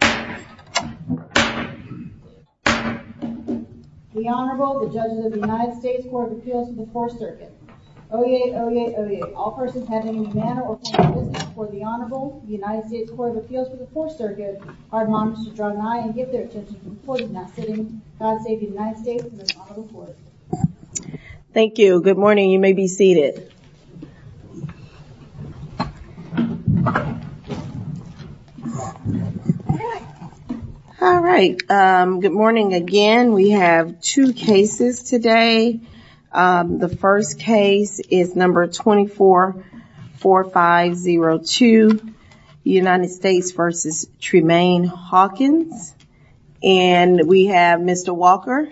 The Honorable, the Judges of the United States Court of Appeals for the 4th Circuit. Oyez, oyez, oyez. All persons having any manner or form of business before the Honorable, the United States Court of Appeals for the 4th Circuit, are admonished to draw nigh and give their attention to the court in that sitting. God save the United States and the Honorable Court. Thank you. Good morning. You may be seated. All right. Good morning again. We have two cases today. The first case is number 244502, United States v. Tremayne Hawkins. And we have Mr. Walker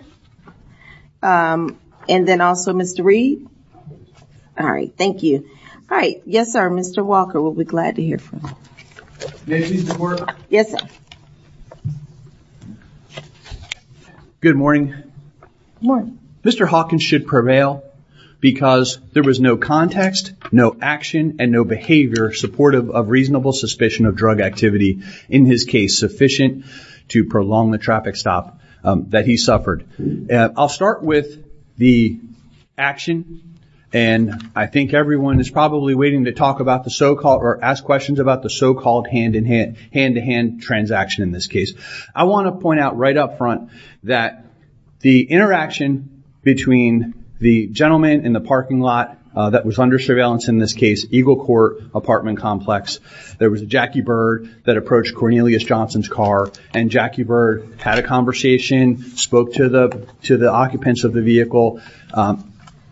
and then also Mr. Reed. All right. Thank you. All right. Yes, sir. Mr. Walker, we'll be glad to hear from you. Good morning. Good morning. Mr. Hawkins should prevail because there was no context, no action and no behavior supportive of reasonable suspicion of drug activity in his case sufficient to prolong the traffic stop that he suffered. I'll start with the action. And I think everyone is probably waiting to talk about the so-called or ask questions about the so-called hand-to-hand transaction in this case. I want to point out right up front that the interaction between the gentleman in the parking lot that was under surveillance in this case, Eagle Court apartment complex, there was a Jackie Bird that approached Cornelius Johnson's car and Jackie Bird had a conversation, spoke to the occupants of the vehicle.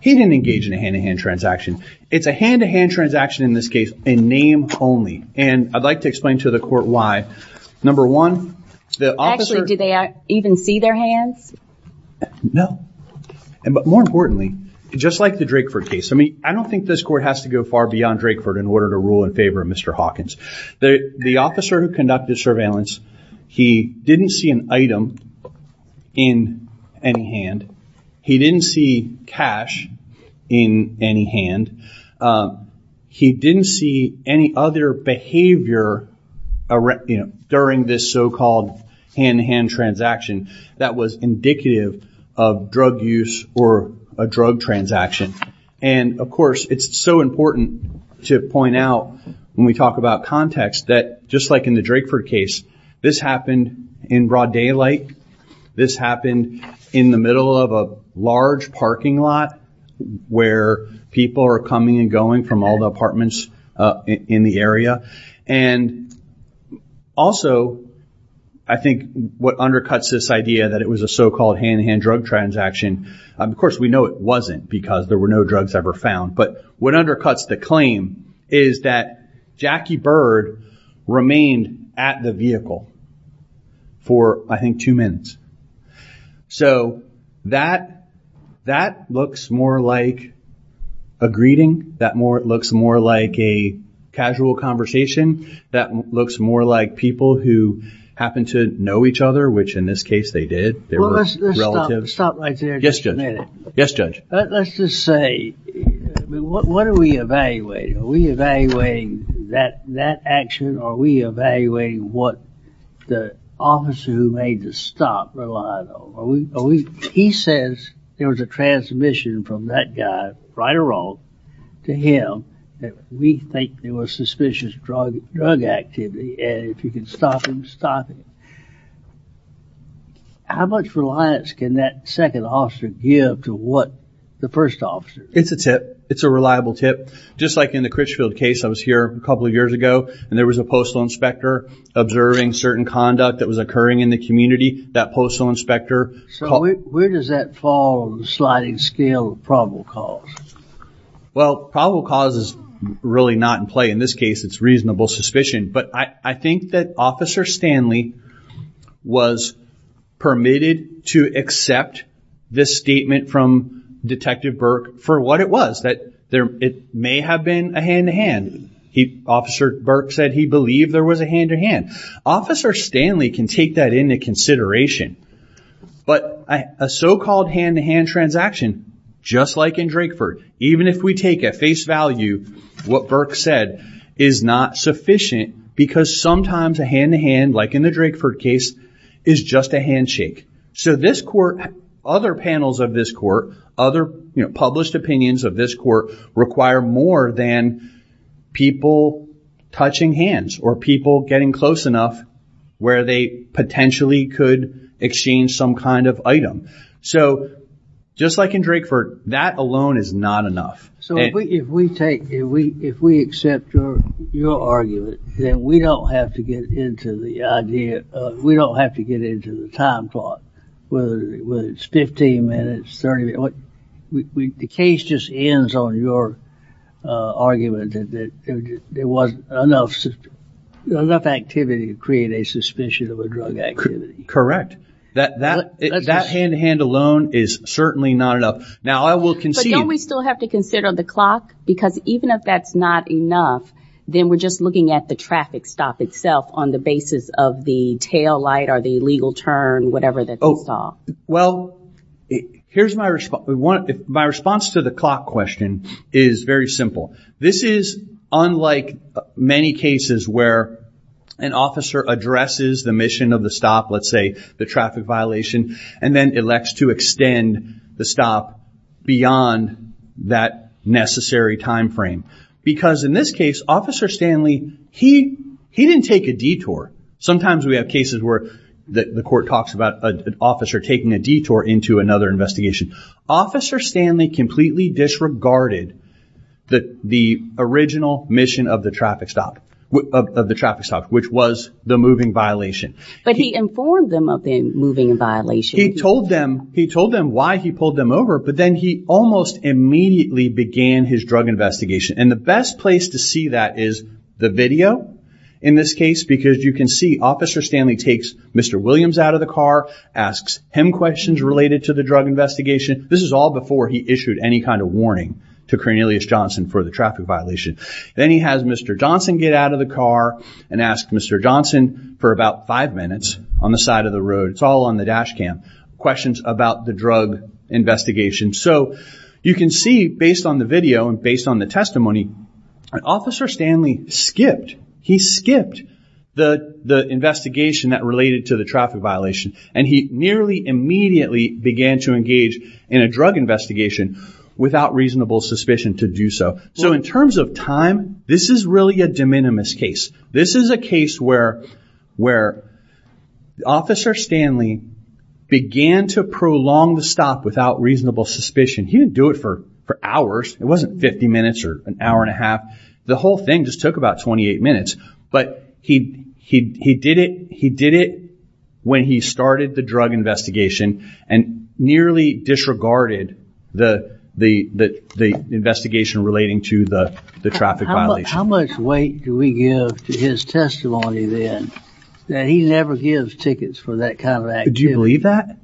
He didn't engage in a hand-to-hand transaction. It's a hand-to-hand transaction in this case and name only. And I'd like to explain to the court why. Number one, the officer... Actually, do they even see their hands? No. But more importantly, just like the Drakeford case, I mean, I don't think this court has to go far beyond Drakeford in order to rule in favor of Mr. Hawkins. The officer who conducted surveillance, he didn't see an item in any hand. He didn't see cash in any hand. He didn't see any other behavior during this so-called hand-to-hand transaction that was indicative of drug use or a drug transaction. And of course, it's so important to point out when we talk about context that just like in the Drakeford case, this happened in broad daylight. This happened in the middle of a large parking lot where people are coming and going from all the apartments in the area. And also, I think what undercuts this idea that it was a so-called hand-to-hand drug transaction, of course, we know it wasn't because there were no drugs ever found. But what undercuts the claim is that Jackie Bird remained at the vehicle for, I think, two minutes. So that looks more like a greeting. That looks more like a casual conversation. That looks more like people who happen to know each other, which in this case they did. They were relatives. Well, let's stop right there just a minute. Yes, Judge. Yes, Judge. Let's just say, what are we evaluating? Are we evaluating that action or are we evaluating what the officer who made the stop relied on? He says there was a transmission from that guy, right or wrong, to him that we think there was suspicious drug activity and if we can stop him, stop him. How much reliance can that second officer give to what the first officer? It's a tip. It's a reliable tip. Just like in the Critchfield case, I was here a couple of years ago and there was a postal inspector observing certain conduct that was occurring in the community. That postal inspector called... So where does that fall on the sliding scale of probable cause? Well, probable cause is really not in play. In this case, it's reasonable suspicion. But I think that Officer Stanley was permitted to accept this statement from Detective Burke for what it was, that it may have been a hand-to-hand. Officer Burke said he believed there was a hand-to-hand. Officer Stanley can take that into consideration. But a so-called hand-to-hand transaction, just like in Drakeford, even if we take at face value what Burke said, is not sufficient because sometimes a hand-to-hand, like in the Drakeford case, is just a handshake. So this court, other panels of this court, other published opinions of this court, require more than people touching hands or people getting close enough where they potentially could exchange some kind of item. So just like in Drakeford, that alone is not enough. So if we take, if we accept your argument, then we don't have to get into the idea of, we don't have to get into the time plot, whether it's 15 minutes, 30 minutes. The case just ends on your argument that there wasn't enough activity to create a suspicion of a drug activity. Correct. That hand-to-hand alone is certainly not enough. Now, I will concede... Don't we still have to consider the clock? Because even if that's not enough, then we're just looking at the traffic stop itself on the basis of the taillight or the illegal turn, whatever that they saw. Well, here's my response. My response to the clock question is very simple. This is unlike many cases where an officer addresses the mission of the stop, let's say the traffic violation, and then elects to extend the stop beyond that necessary timeframe. Because in this case, Officer Stanley, he didn't take a detour. Sometimes we have cases where the court talks about an officer taking a detour into another investigation. Officer Stanley completely disregarded the original mission of the traffic stop, which was the moving violation. But he informed them of the moving violation. He told them why he pulled them over, but then he almost immediately began his drug investigation. And the best place to see that is the video, in this case, because you can see Officer Stanley takes Mr. Williams out of the car, asks him questions related to the drug investigation. This is all before he issued any kind of warning to Cornelius Johnson for the traffic violation. Then he has Mr. Johnson get out of the car and ask Mr. Johnson for about five minutes on the side of the road. It's all on the dash cam, questions about the drug investigation. So you can see, based on the video and based on the testimony, Officer Stanley skipped. He skipped the investigation that related to the traffic violation, and he nearly immediately began to engage in a drug investigation without reasonable suspicion to do so. So in terms of time, this is really a de minimis case. This is a case where Officer Stanley began to prolong the stop without reasonable suspicion. He didn't do it for hours. It wasn't 50 minutes or an hour and a half. The whole thing just took about 28 minutes, but he did it when he started the drug investigation and nearly disregarded the investigation relating to the traffic violation. How much weight do we give to his testimony, then, that he never gives tickets for that kind of activity? Do you believe that?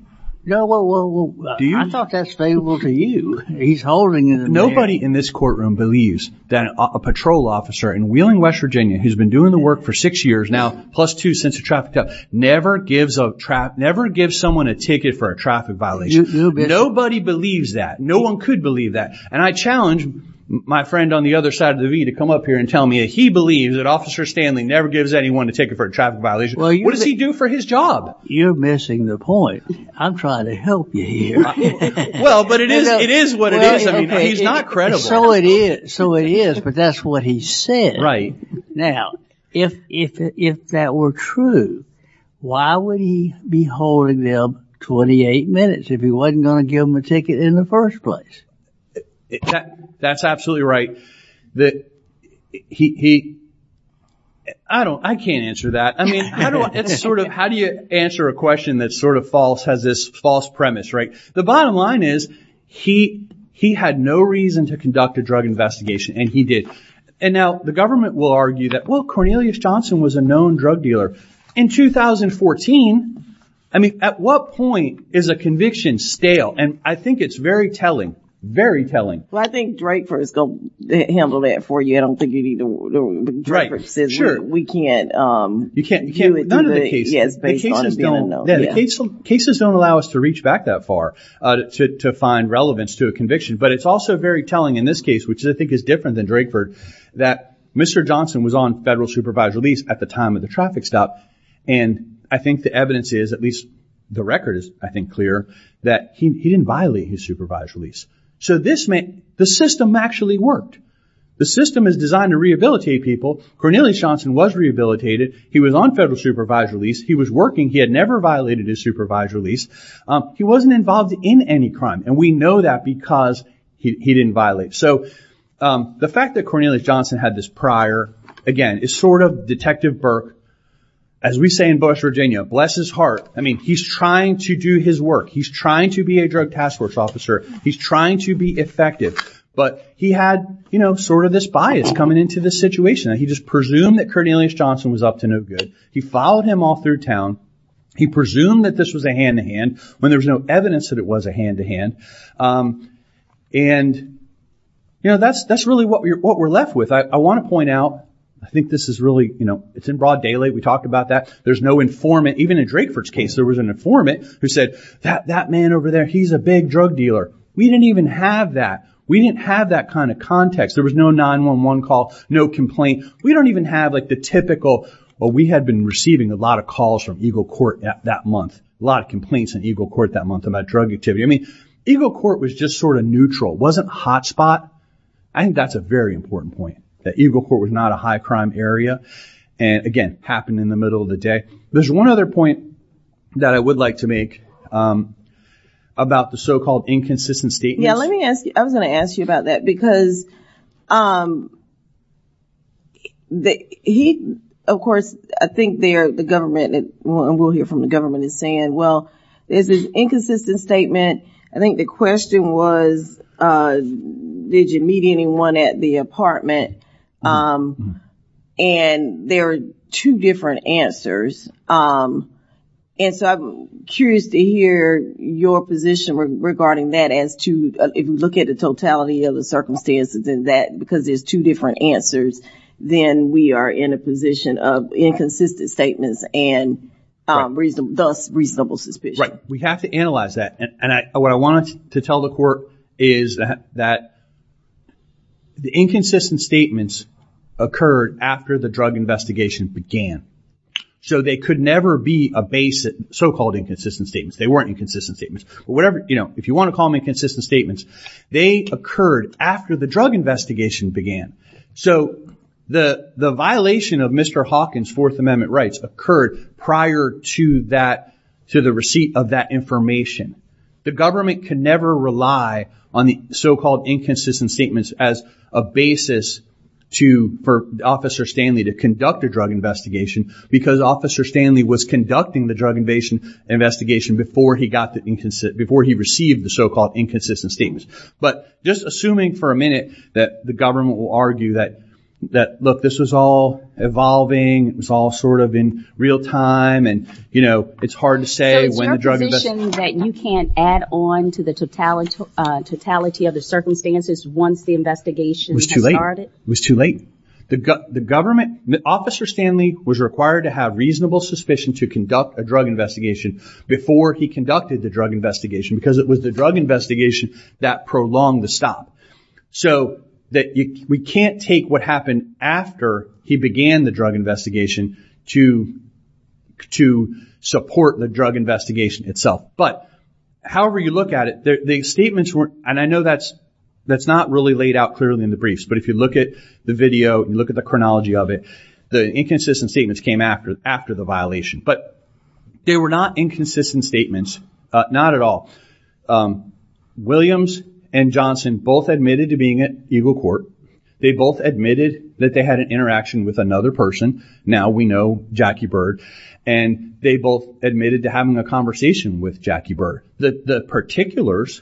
No, well, I thought that's favorable to you. He's holding it in there. Nobody in this courtroom believes that a patrol officer in Wheeling, West Virginia, who's been doing the work for six years now, plus two since the traffic stop, never gives someone a ticket for a traffic violation. Nobody believes that. No one could believe that. And I challenge my friend on the other side of the V to come up here and tell me that he believes that Officer Stanley never gives anyone a ticket for a traffic violation. What does he do for his job? You're missing the point. I'm trying to help you here. Well, but it is what it is. He's not credible. So it is, but that's what he said. Now, if that were true, why would he be holding them 28 minutes if he wasn't going to give them a ticket in the first place? That's absolutely right. I can't answer that. How do you answer a question that has this false premise? The bottom line is, he had no reason to conduct a drug investigation, and he did. And now the government will argue that, well, Cornelius Johnson was a known drug dealer. In 2014, I mean, at what point is a conviction stale? And I think it's very telling, very telling. Well, I think Drakeford is going to handle that for you. I don't think Drakeford says we can't do it. The cases don't allow us to reach back that far to find relevance to a conviction. But it's also very telling in this case, which I think is different than Drakeford, that Mr. Johnson was on federal supervised release at the time of the traffic stop. And I think the evidence is, at least the record is, I think, clear, that he didn't violate his supervised release. So this meant the system actually worked. The system is designed to rehabilitate people. Cornelius Johnson was rehabilitated. He was on federal supervised release. He was working. He had never violated his supervised release. He wasn't involved in any crime. And we know that because he didn't violate. So the fact that Cornelius Johnson had this prior, again, it's sort of Detective Burke, as we say in Bush, Virginia, bless his heart. I mean, he's trying to do his work. He's trying to be a drug task force officer. He's trying to be effective. But he had, you know, sort of this bias coming into the situation. He just presumed that Cornelius Johnson was up to no good. He followed him all through town. He presumed that this was a hand-to-hand when there was no evidence that it was a hand-to-hand. And, you know, that's really what we're left with. I want to point out, I think this is really, you know, it's in broad daylight. We talked about that. There's no informant. Even in Drakeford's case, there was an informant who said, that man over there, he's a big drug dealer. We didn't even have that. We didn't have that kind of context. There was no 911 call, no complaint. We don't even have, like, the typical, well, we had been receiving a lot of calls from Eagle Court that month. A lot of complaints in Eagle Court that month about drug activity. I mean, Eagle Court was just sort of neutral. It wasn't a hot spot. I think that's a very important point, that Eagle Court was not a high-crime area. And, again, happened in the middle of the day. There's one other point that I would like to make about the so-called inconsistent statements. Yeah, let me ask you. I was going to ask you about that, because he, of course, I think the government, and we'll hear from the government, is saying, well, there's this inconsistent statement. I think the question was, did you meet anyone at the apartment? And there are two different answers. And so I'm curious to hear your position regarding that as to, if you look at the totality of the circumstances in that, because there's two different answers, then we are in a position of inconsistent statements and thus reasonable suspicion. Right. We have to analyze that. And what I wanted to tell the court is that the inconsistent statements occurred after the drug investigation began. So they could never be a basic so-called inconsistent statement. They weren't inconsistent statements. If you want to call them inconsistent statements, they occurred after the drug investigation began. So the violation of Mr. Hawkins' Fourth Amendment rights occurred prior to the receipt of that information. The government can never rely on the so-called inconsistent statements as a basis for Officer Stanley to conduct a drug investigation because Officer Stanley was conducting the drug investigation before he received the so-called inconsistent statements. But just assuming for a minute that the government will argue that, look, this was all evolving, it was all sort of in real time, and, you know, it's hard to say when the drug investigation- So it's your position that you can't add on to the totality of the circumstances once the investigation has started? It was too late. It was too late. The government- Officer Stanley was required to have reasonable suspicion to conduct a drug investigation before he conducted the drug investigation because it was the drug investigation that prolonged the stop. So we can't take what happened after he began the drug investigation to support the drug investigation itself. But however you look at it, the statements weren't- And I know that's not really laid out clearly in the briefs, but if you look at the video and look at the chronology of it, the inconsistent statements came after the violation. But they were not inconsistent statements, not at all. Williams and Johnson both admitted to being at Eagle Court. They both admitted that they had an interaction with another person. Now we know Jackie Byrd. And they both admitted to having a conversation with Jackie Byrd. The particulars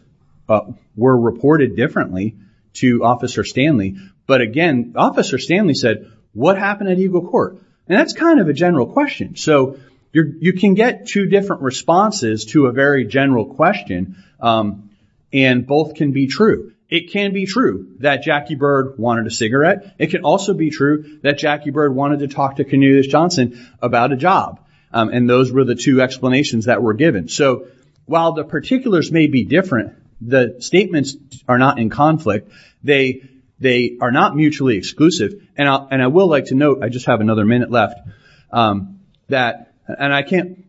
were reported differently to Officer Stanley. But again, Officer Stanley said, what happened at Eagle Court? And that's kind of a general question. So you can get two different responses to a very general question. And both can be true. It can be true that Jackie Byrd wanted a cigarette. It can also be true that Jackie Byrd wanted to talk to Canutus Johnson about a job. And those were the two explanations that were given. So while the particulars may be different, the statements are not in conflict. They are not mutually exclusive. And I will like to note, I just have another minute left, that- And I can't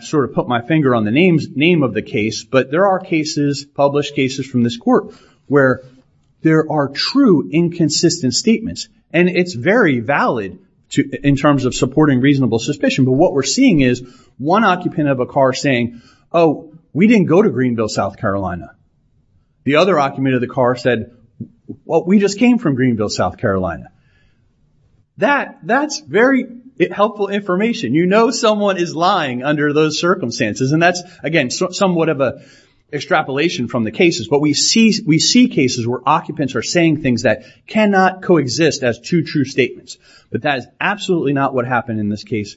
sort of put my finger on the name of the case, but there are cases, published cases from this court, where there are true inconsistent statements. And it's very valid in terms of supporting reasonable suspicion. But what we're seeing is one occupant of a car saying, oh, we didn't go to Greenville, South Carolina. The other occupant of the car said, well, we just came from Greenville, South Carolina. That's very helpful information. You know someone is lying under those circumstances. And that's, again, somewhat of an extrapolation from the cases. But we see cases where occupants are saying things that cannot coexist as two true statements. But that is absolutely not what happened in this case.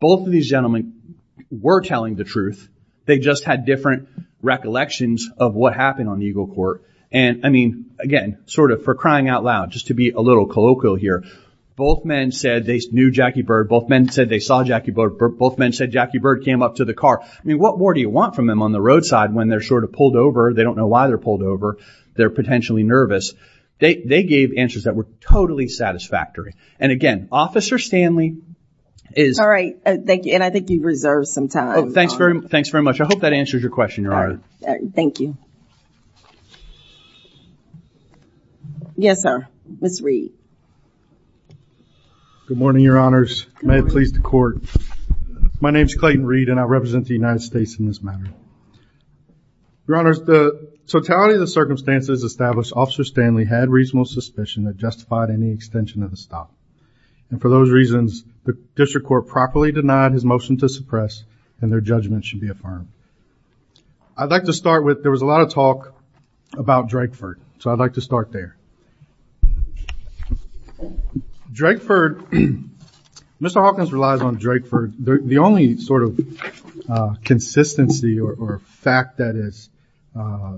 Both of these gentlemen were telling the truth. They just had different recollections of what happened on Eagle Court. And, I mean, again, sort of for crying out loud, just to be a little colloquial here, both men said they knew Jackie Bird. Both men said they saw Jackie Bird. Both men said Jackie Bird came up to the car. I mean, what more do you want from them on the roadside when they're sort of pulled over? They don't know why they're pulled over. They're potentially nervous. They gave answers that were totally satisfactory. And, again, Officer Stanley is. All right. Thank you. And I think you've reserved some time. Oh, thanks very much. I hope that answers your question, Your Honor. All right. Thank you. Yes, sir. Ms. Reed. Good morning, Your Honors. May it please the Court. My name is Clayton Reed, and I represent the United States in this matter. Your Honors, the totality of the circumstances established Officer Stanley had reasonable suspicion that justified any extension of the stop. And for those reasons, the District Court properly denied his motion to suppress, and their judgment should be affirmed. I'd like to start with there was a lot of talk about Drakeford, so I'd like to start there. Drakeford, Mr. Hawkins relies on Drakeford. The only sort of consistency or fact that is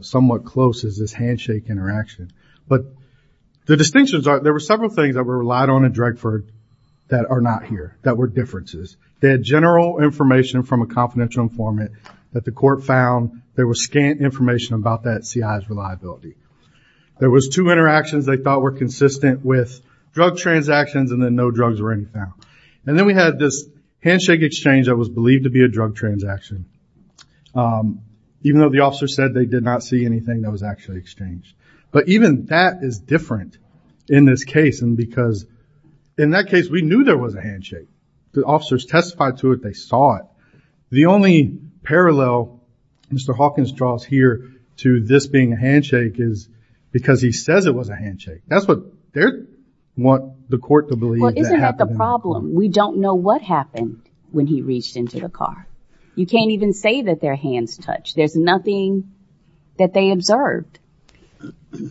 somewhat close is this handshake interaction. But the distinctions are there were several things that were relied on in Drakeford that are not here, that were differences. They had general information from a confidential informant that the court found. There was scant information about that CI's reliability. There was two interactions they thought were consistent with drug transactions, and then no drugs were any found. And then we had this handshake exchange that was believed to be a drug transaction, even though the officer said they did not see anything that was actually exchanged. But even that is different in this case, because in that case we knew there was a handshake. The officers testified to it. They saw it. The only parallel Mr. Hawkins draws here to this being a handshake is because he says it was a handshake. That's what they want the court to believe. Well, isn't that the problem? We don't know what happened when he reached into the car. You can't even say that their hands touched. There's nothing that they observed.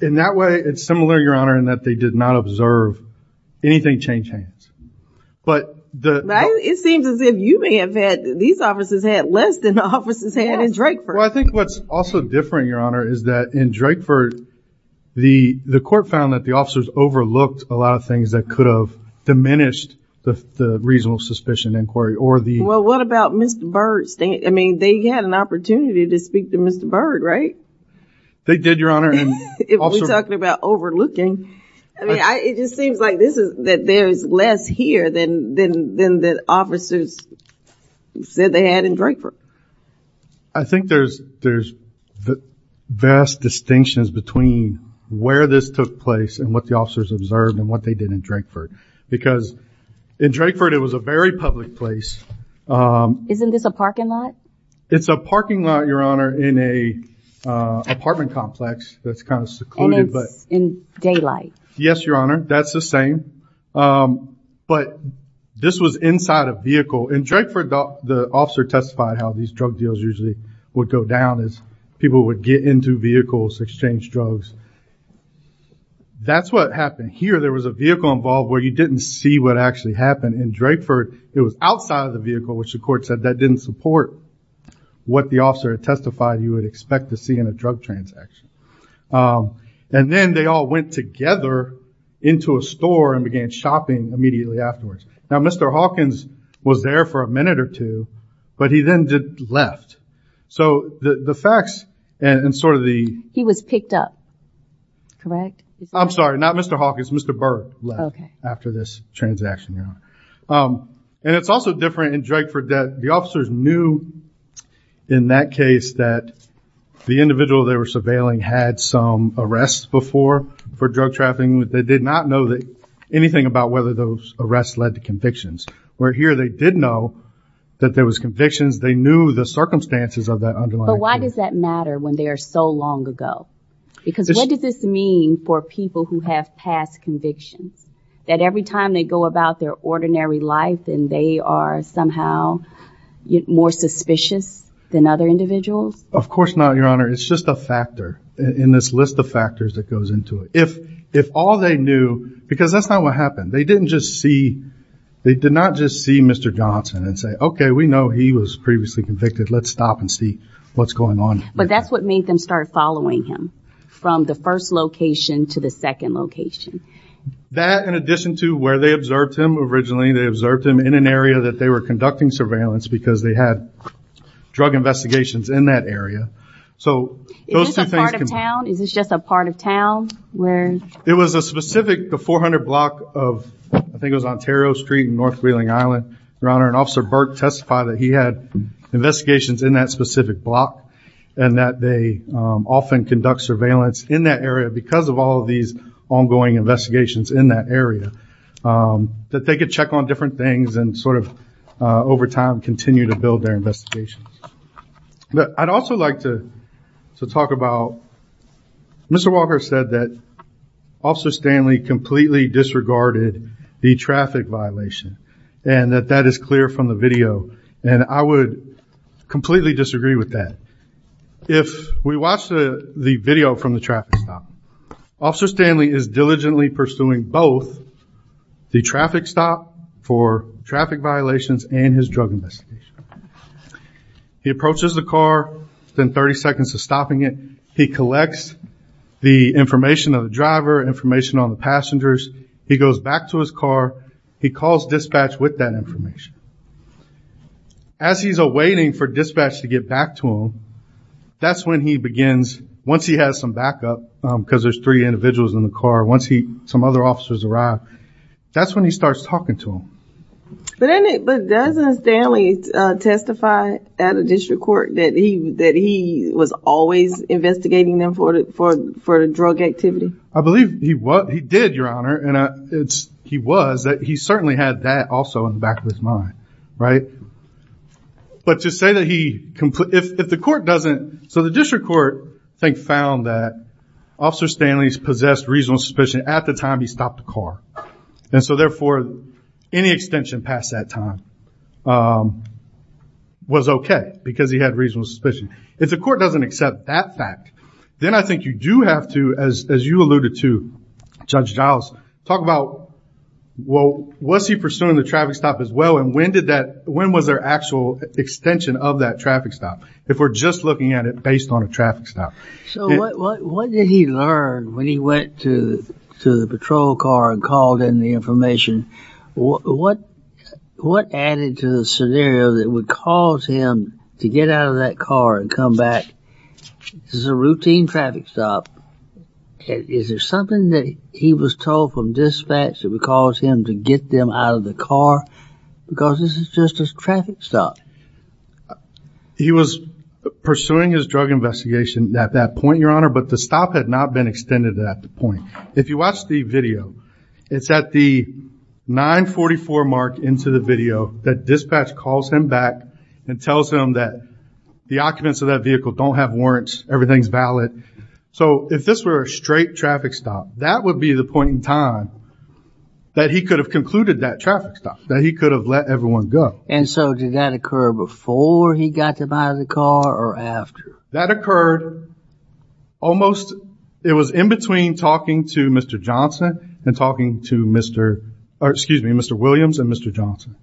In that way, it's similar, Your Honor, in that they did not observe anything change hands. But the – It seems as if you may have had – these officers had less than the officers had in Drakeford. Well, I think what's also different, Your Honor, is that in Drakeford, the court found that the officers overlooked a lot of things that could have diminished the reasonable suspicion inquiry or the – Well, what about Mr. Byrd? I mean, they had an opportunity to speak to Mr. Byrd, right? They did, Your Honor. If we're talking about overlooking, I mean, it just seems like this is – that there is less here than the officers said they had in Drakeford. I think there's vast distinctions between where this took place and what the officers observed and what they did in Drakeford. Because in Drakeford, it was a very public place. Isn't this a parking lot? It's a parking lot, Your Honor, in a apartment complex that's kind of secluded. And it's in daylight. Yes, Your Honor. That's the same. But this was inside a vehicle. In Drakeford, the officer testified how these drug deals usually would go down is people would get into vehicles, exchange drugs. That's what happened here. There was a vehicle involved where you didn't see what actually happened. In Drakeford, it was outside of the vehicle, which the court said that didn't support what the officer had testified you would expect to see in a drug transaction. And then they all went together into a store and began shopping immediately afterwards. Now, Mr. Hawkins was there for a minute or two, but he then left. So the facts and sort of the... He was picked up, correct? I'm sorry, not Mr. Hawkins. Mr. Burke left after this transaction, Your Honor. And it's also different in Drakeford that the officers knew in that case that the individual they were surveilling had some arrests before for drug trafficking. They did not know anything about whether those arrests led to convictions. Where here they did know that there was convictions. They knew the circumstances of that underlying... But why does that matter when they are so long ago? Because what does this mean for people who have past convictions? That every time they go about their ordinary life and they are somehow more suspicious than other individuals? Of course not, Your Honor. It's just a factor in this list of factors that goes into it. If all they knew... Because that's not what happened. They didn't just see... They did not just see Mr. Johnson and say, okay, we know he was previously convicted. Let's stop and see what's going on. But that's what made them start following him from the first location to the second location. That in addition to where they observed him originally. They observed him in an area that they were conducting surveillance because they had drug investigations in that area. Is this a part of town? Is this just a part of town? It was a specific... The 400 block of... I think it was Ontario Street and North Wheeling Island, Your Honor. And Officer Burke testified that he had investigations in that specific block. And that they often conduct surveillance in that area because of all these ongoing investigations in that area. That they could check on different things and sort of over time continue to build their investigations. I'd also like to talk about... Mr. Walker said that Officer Stanley completely disregarded the traffic violation. And that that is clear from the video. And I would completely disagree with that. If we watch the video from the traffic stop. Officer Stanley is diligently pursuing both the traffic stop for traffic violations and his drug investigation. He approaches the car. Then 30 seconds of stopping it. He collects the information of the driver, information on the passengers. He goes back to his car. He calls dispatch with that information. As he's awaiting for dispatch to get back to him, that's when he begins... Once he has some backup, because there's three individuals in the car. Once some other officers arrive, that's when he starts talking to them. But doesn't Stanley testify at a district court that he was always investigating them for the drug activity? I believe he did, Your Honor. And he was. He certainly had that also in the back of his mind. But to say that he... If the court doesn't... So the district court found that Officer Stanley possessed reasonable suspicion at the time he stopped the car. And so therefore, any extension past that time was okay. Because he had reasonable suspicion. If the court doesn't accept that fact, then I think you do have to, as you alluded to, Judge Giles, talk about, well, was he pursuing the traffic stop as well? And when was there actual extension of that traffic stop? If we're just looking at it based on a traffic stop. So what did he learn when he went to the patrol car and called in the information? What added to the scenario that would cause him to get out of that car and come back? This is a routine traffic stop. Is there something that he was told from dispatch that would cause him to get them out of the car? Because this is just a traffic stop. He was pursuing his drug investigation at that point, Your Honor, but the stop had not been extended at that point. If you watch the video, it's at the 944 mark into the video that dispatch calls him back and tells him that the occupants of that vehicle don't have warrants, everything's valid. So if this were a straight traffic stop, that would be the point in time that he could have concluded that traffic stop. That he could have let everyone go. And so did that occur before he got them out of the car or after? That occurred almost, it was in between talking to Mr. Johnson and talking to Mr. Williams and Mr. Johnson.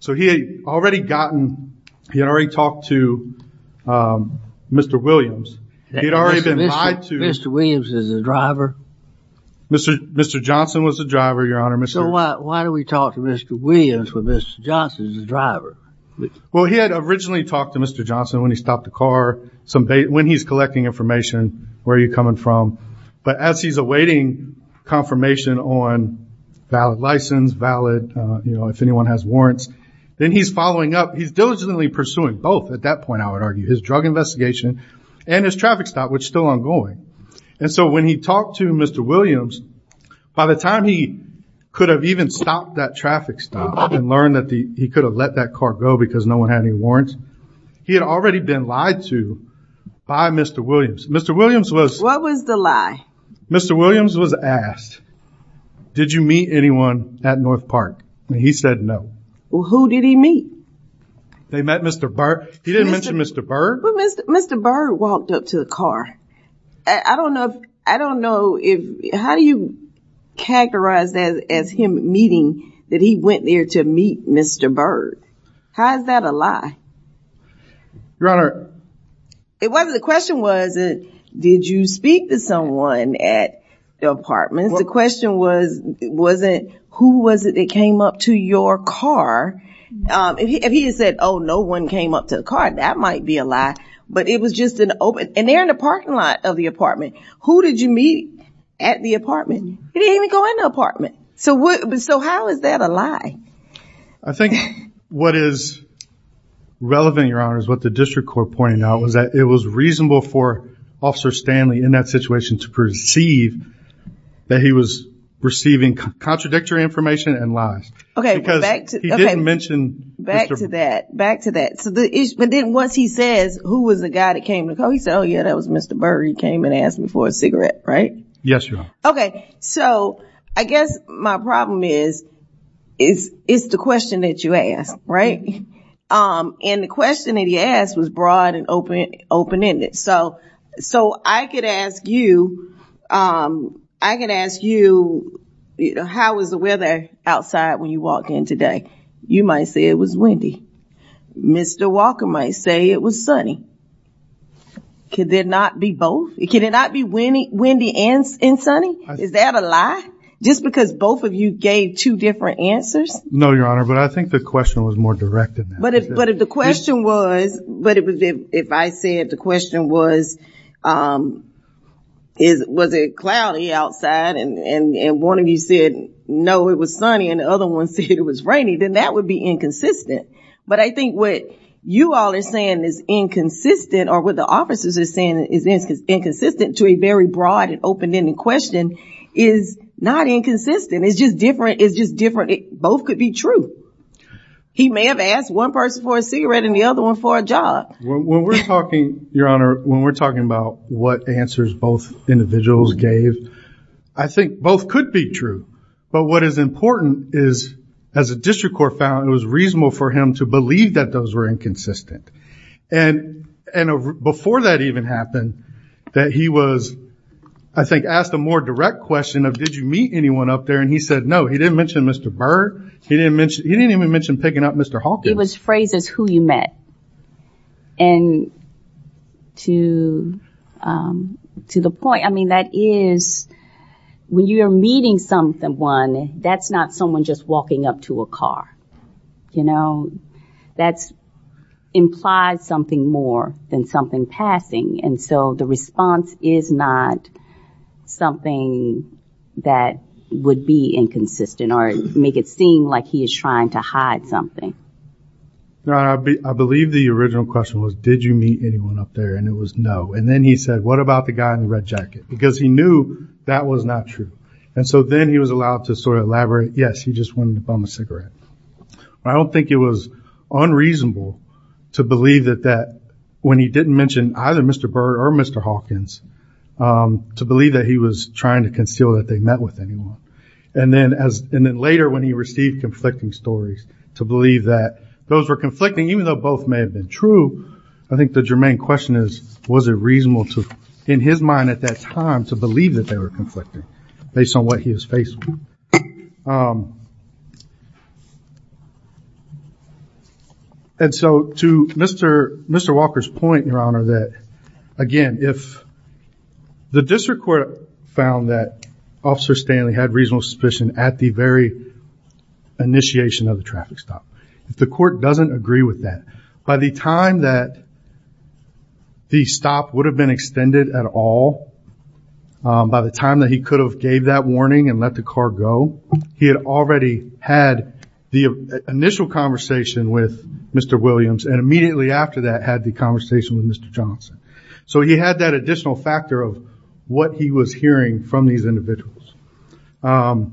So he had already gotten, he had already talked to Mr. Williams. Mr. Williams is the driver? Mr. Johnson was the driver, Your Honor. So why do we talk to Mr. Williams when Mr. Johnson's the driver? Well, he had originally talked to Mr. Johnson when he stopped the car, when he's collecting information, where you're coming from. But as he's awaiting confirmation on valid license, valid, you know, if anyone has warrants, then he's following up. He's diligently pursuing both at that point, I would argue, his drug investigation and his traffic stop, which is still ongoing. And so when he talked to Mr. Williams, by the time he could have even stopped that traffic stop and learned that he could have let that car go because no one had any warrants, he had already been lied to by Mr. Williams. Mr. Williams was... What was the lie? Mr. Williams was asked, did you meet anyone at North Park? And he said no. Well, who did he meet? They met Mr. Bird. He didn't mention Mr. Bird? Well, Mr. Bird walked up to the car. I don't know if... I don't know if... How do you characterize that as him meeting, that he went there to meet Mr. Bird? How is that a lie? Your Honor... The question wasn't, did you speak to someone at the apartment? The question wasn't, who was it that came up to your car? If he had said, oh, no one came up to the car, that might be a lie. But it was just an open... And they're in the parking lot of the apartment. Who did you meet at the apartment? He didn't even go in the apartment. So how is that a lie? I think what is relevant, Your Honor, is what the district court pointed out, was that it was reasonable for Officer Stanley in that situation to perceive that he was receiving contradictory information and lies. Okay. Because he didn't mention... Back to that. Back to that. But then once he says, who was the guy that came to the car, he said, oh, yeah, that was Mr. Bird. He came and asked me for a cigarette, right? Yes, Your Honor. Okay. So I guess my problem is, it's the question that you asked, right? And the question that he asked was broad and open-ended. So I could ask you, how was the weather outside when you walked in today? You might say it was windy. Mr. Walker might say it was sunny. Could there not be both? Could it not be windy and sunny? Is that a lie? Just because both of you gave two different answers? No, Your Honor, but I think the question was more direct in that. But if the question was, if I said the question was, was it cloudy outside and one of you said, no, it was sunny, and the other one said it was rainy, then that would be inconsistent. But I think what you all are saying is inconsistent or what the officers are saying is inconsistent to a very broad and open-ended question is not inconsistent. It's just different. It's just different. Both could be true. He may have asked one person for a cigarette and the other one for a job. When we're talking, Your Honor, when we're talking about what answers both individuals gave, I think both could be true. But what is important is, as a district court found, it was reasonable for him to believe that those were inconsistent. And before that even happened, that he was, I think, asked a more direct question of, did you meet anyone up there? And he said, no. He didn't mention Mr. Burr. He didn't even mention picking up Mr. Hawkins. He was phrased as who you met. And to the point, I mean, that is, when you are meeting someone, that's not someone just walking up to a car, you know. That implies something more than something passing. And so the response is not something that would be inconsistent or make it seem like he is trying to hide something. Your Honor, I believe the original question was, did you meet anyone up there? And it was no. And then he said, what about the guy in the red jacket? Because he knew that was not true. And so then he was allowed to sort of elaborate, yes, he just wanted to bum a cigarette. I don't think it was unreasonable to believe that when he didn't mention either Mr. Burr or Mr. Hawkins, to believe that he was trying to conceal that they met with anyone. And then later when he received conflicting stories, to believe that those were conflicting, even though both may have been true, I think the germane question is, was it reasonable to, in his mind at that time, to believe that they were conflicting based on what he was facing? And so to Mr. Walker's point, Your Honor, that, again, if the district court found that Officer Stanley had reasonable suspicion at the very initiation of the traffic stop, if the court doesn't agree with that, by the time that the stop would have been extended at all, by the time that he could have gave that warning and let the car go, he had already had the initial conversation with Mr. Williams, and immediately after that had the conversation with Mr. Johnson. So he had that additional factor of what he was hearing from these individuals. And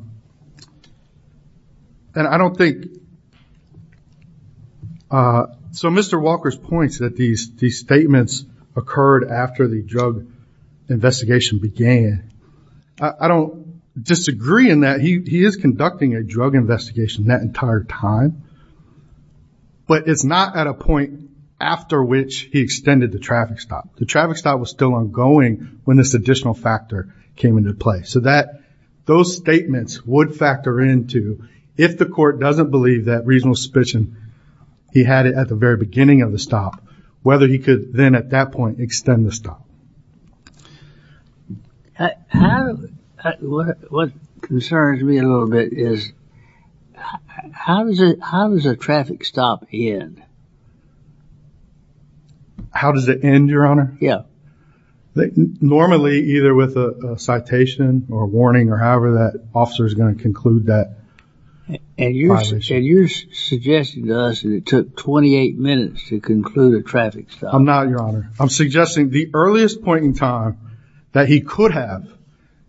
I don't think... So Mr. Walker's point is that these statements occurred after the drug investigation began. I don't disagree in that. He is conducting a drug investigation that entire time, but it's not at a point after which he extended the traffic stop. The traffic stop was still ongoing when this additional factor came into play. So those statements would factor into, if the court doesn't believe that reasonable suspicion he had at the very beginning of the stop, whether he could then, at that point, extend the stop. What concerns me a little bit is, how does a traffic stop end? How does it end, Your Honor? Yeah. Normally, either with a citation or a warning or however that officer is going to conclude that. And you're suggesting to us that it took 28 minutes to conclude a traffic stop. I'm not, Your Honor. I'm suggesting the earliest point in time that he could have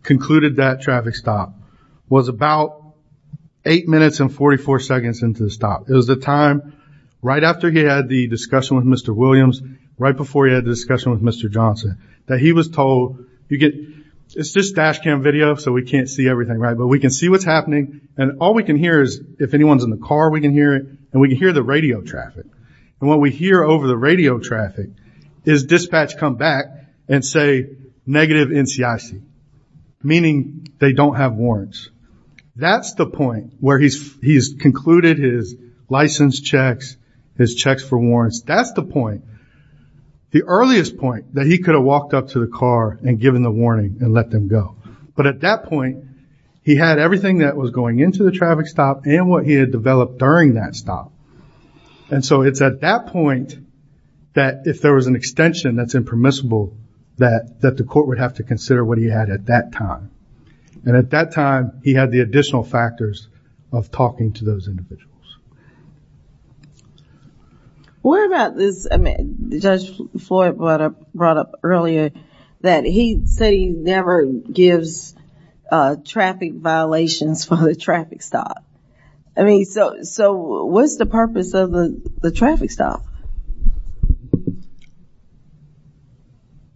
concluded that traffic stop was about 8 minutes and 44 seconds into the stop. It was the time right after he had the discussion with Mr. Williams, right before he had the discussion with Mr. Johnson, that he was told, it's just dash cam video, so we can't see everything, but we can see what's happening. And all we can hear is, if anyone's in the car, we can hear it. And we can hear the radio traffic. And what we hear over the radio traffic is dispatch come back and say negative NCIC, meaning they don't have warrants. That's the point where he's concluded his license checks, his checks for warrants. That's the point, the earliest point that he could have walked up to the car and given the warning and let them go. But at that point, he had everything that was going into the traffic stop and what he had developed during that stop. And so it's at that point that if there was an extension that's impermissible, that the court would have to consider what he had at that time. And at that time, he had the additional factors of talking to those individuals. What about this? I mean, Judge Floyd brought up earlier that he said he never gives traffic violations for the traffic stop. I mean, so what's the purpose of the traffic stop?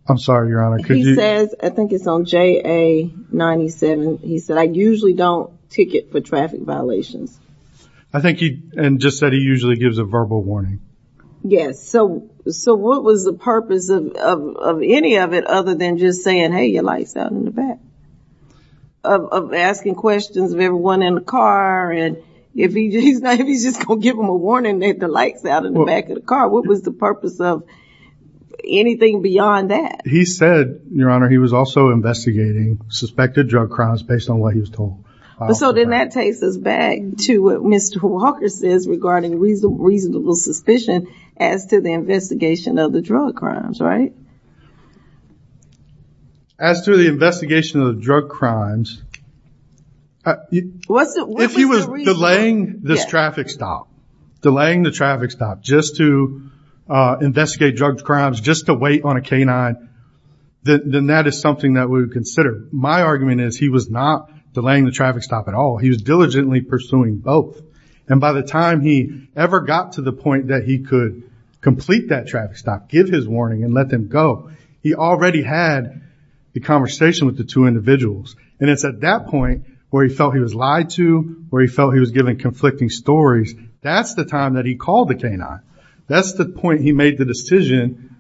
I'm sorry, Your Honor. He says, I think it's on JA 97. He said, I usually don't ticket for traffic violations. I think he just said he usually gives a verbal warning. Yes. So what was the purpose of any of it other than just saying, hey, your light's out in the back, of asking questions of everyone in the car, and if he's just going to give them a warning that the light's out in the back of the car, what was the purpose of anything beyond that? He said, Your Honor, he was also investigating suspected drug crimes based on what he was told. So then that takes us back to what Mr. Walker says regarding reasonable suspicion as to the investigation of the drug crimes, right? As to the investigation of the drug crimes, if he was delaying this traffic stop, delaying the traffic stop just to investigate drug crimes, just to wait on a K-9, then that is something that we would consider. But my argument is he was not delaying the traffic stop at all. He was diligently pursuing both. And by the time he ever got to the point that he could complete that traffic stop, give his warning, and let them go, he already had the conversation with the two individuals. And it's at that point where he felt he was lied to, where he felt he was giving conflicting stories, that's the time that he called the K-9. That's the point he made the decision,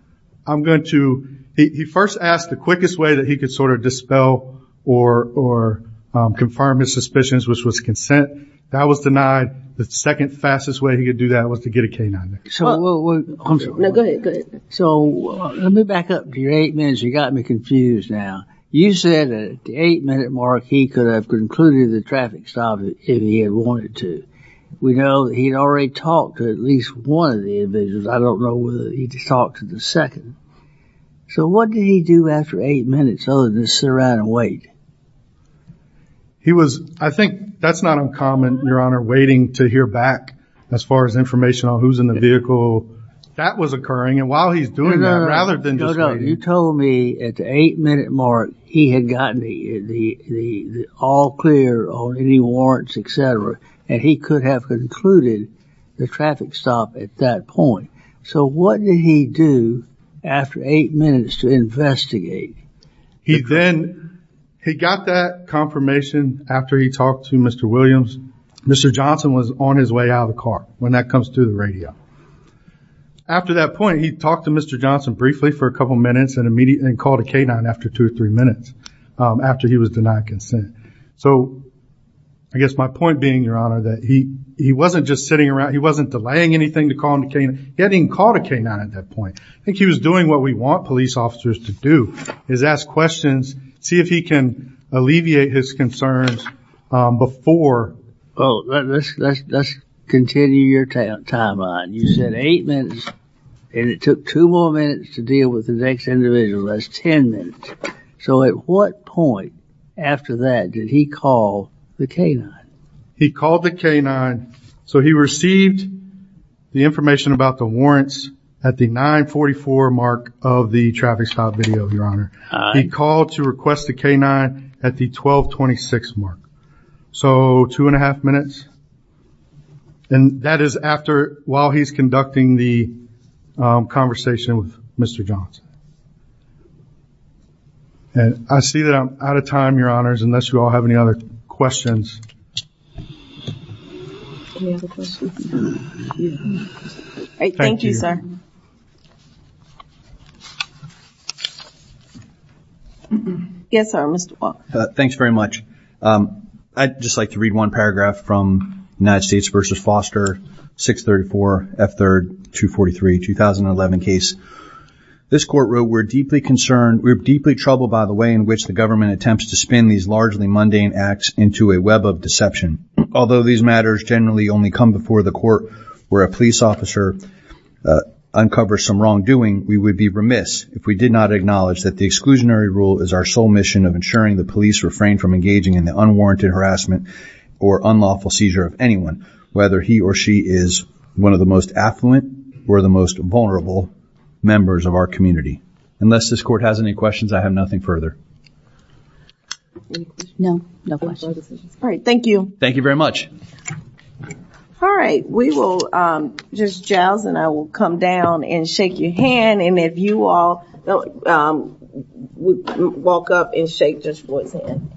I'm going to – He first asked the quickest way that he could sort of dispel or confirm his suspicions, which was consent. That was denied. The second fastest way he could do that was to get a K-9. So let me back up to your eight minutes. You got me confused now. You said at the eight-minute mark he could have concluded the traffic stop if he had wanted to. We know that he had already talked to at least one of the individuals. I don't know whether he talked to the second. So what did he do after eight minutes other than sit around and wait? He was – I think that's not uncommon, Your Honor, waiting to hear back as far as information on who's in the vehicle. That was occurring. And while he's doing that, rather than just waiting. You told me at the eight-minute mark he had gotten the all clear on any warrants, et cetera, and he could have concluded the traffic stop at that point. So what did he do after eight minutes to investigate? He then – he got that confirmation after he talked to Mr. Williams. Mr. Johnson was on his way out of the car when that comes through the radio. After that point, he talked to Mr. Johnson briefly for a couple of minutes and called a K-9 after two or three minutes after he was denied consent. So I guess my point being, Your Honor, that he wasn't just sitting around. He wasn't delaying anything to call him the K-9. He hadn't even called a K-9 at that point. I think he was doing what we want police officers to do, is ask questions, see if he can alleviate his concerns before. Well, let's continue your timeline. You said eight minutes, and it took two more minutes to deal with the next individual. That's ten minutes. So at what point after that did he call the K-9? He called the K-9. So he received the information about the warrants at the 944 mark of the traffic stop video, Your Honor. He called to request the K-9 at the 1226 mark. So two and a half minutes, and that is after – while he's conducting the conversation with Mr. Johnson. I see that I'm out of time, Your Honors, unless you all have any other questions. Any other questions? All right, thank you, sir. Yes, sir, Mr. Wall. Thanks very much. I'd just like to read one paragraph from United States v. Foster, 634 F3rd 243, 2011 case. This court wrote, We're deeply concerned, we're deeply troubled by the way in which the government attempts to spin these largely mundane acts into a web of deception. Although these matters generally only come before the court where a police officer uncovers some wrongdoing, we would be remiss if we did not acknowledge that the exclusionary rule is our sole mission of ensuring the police refrain from engaging in the unwarranted harassment or unlawful seizure of anyone, whether he or she is one of the most affluent or the most vulnerable members of our community. Unless this court has any questions, I have nothing further. No, no questions. All right, thank you. Thank you very much. All right, we will just, Giles and I will come down and shake your hand. And if you all walk up and shake Judge Boyd's hand.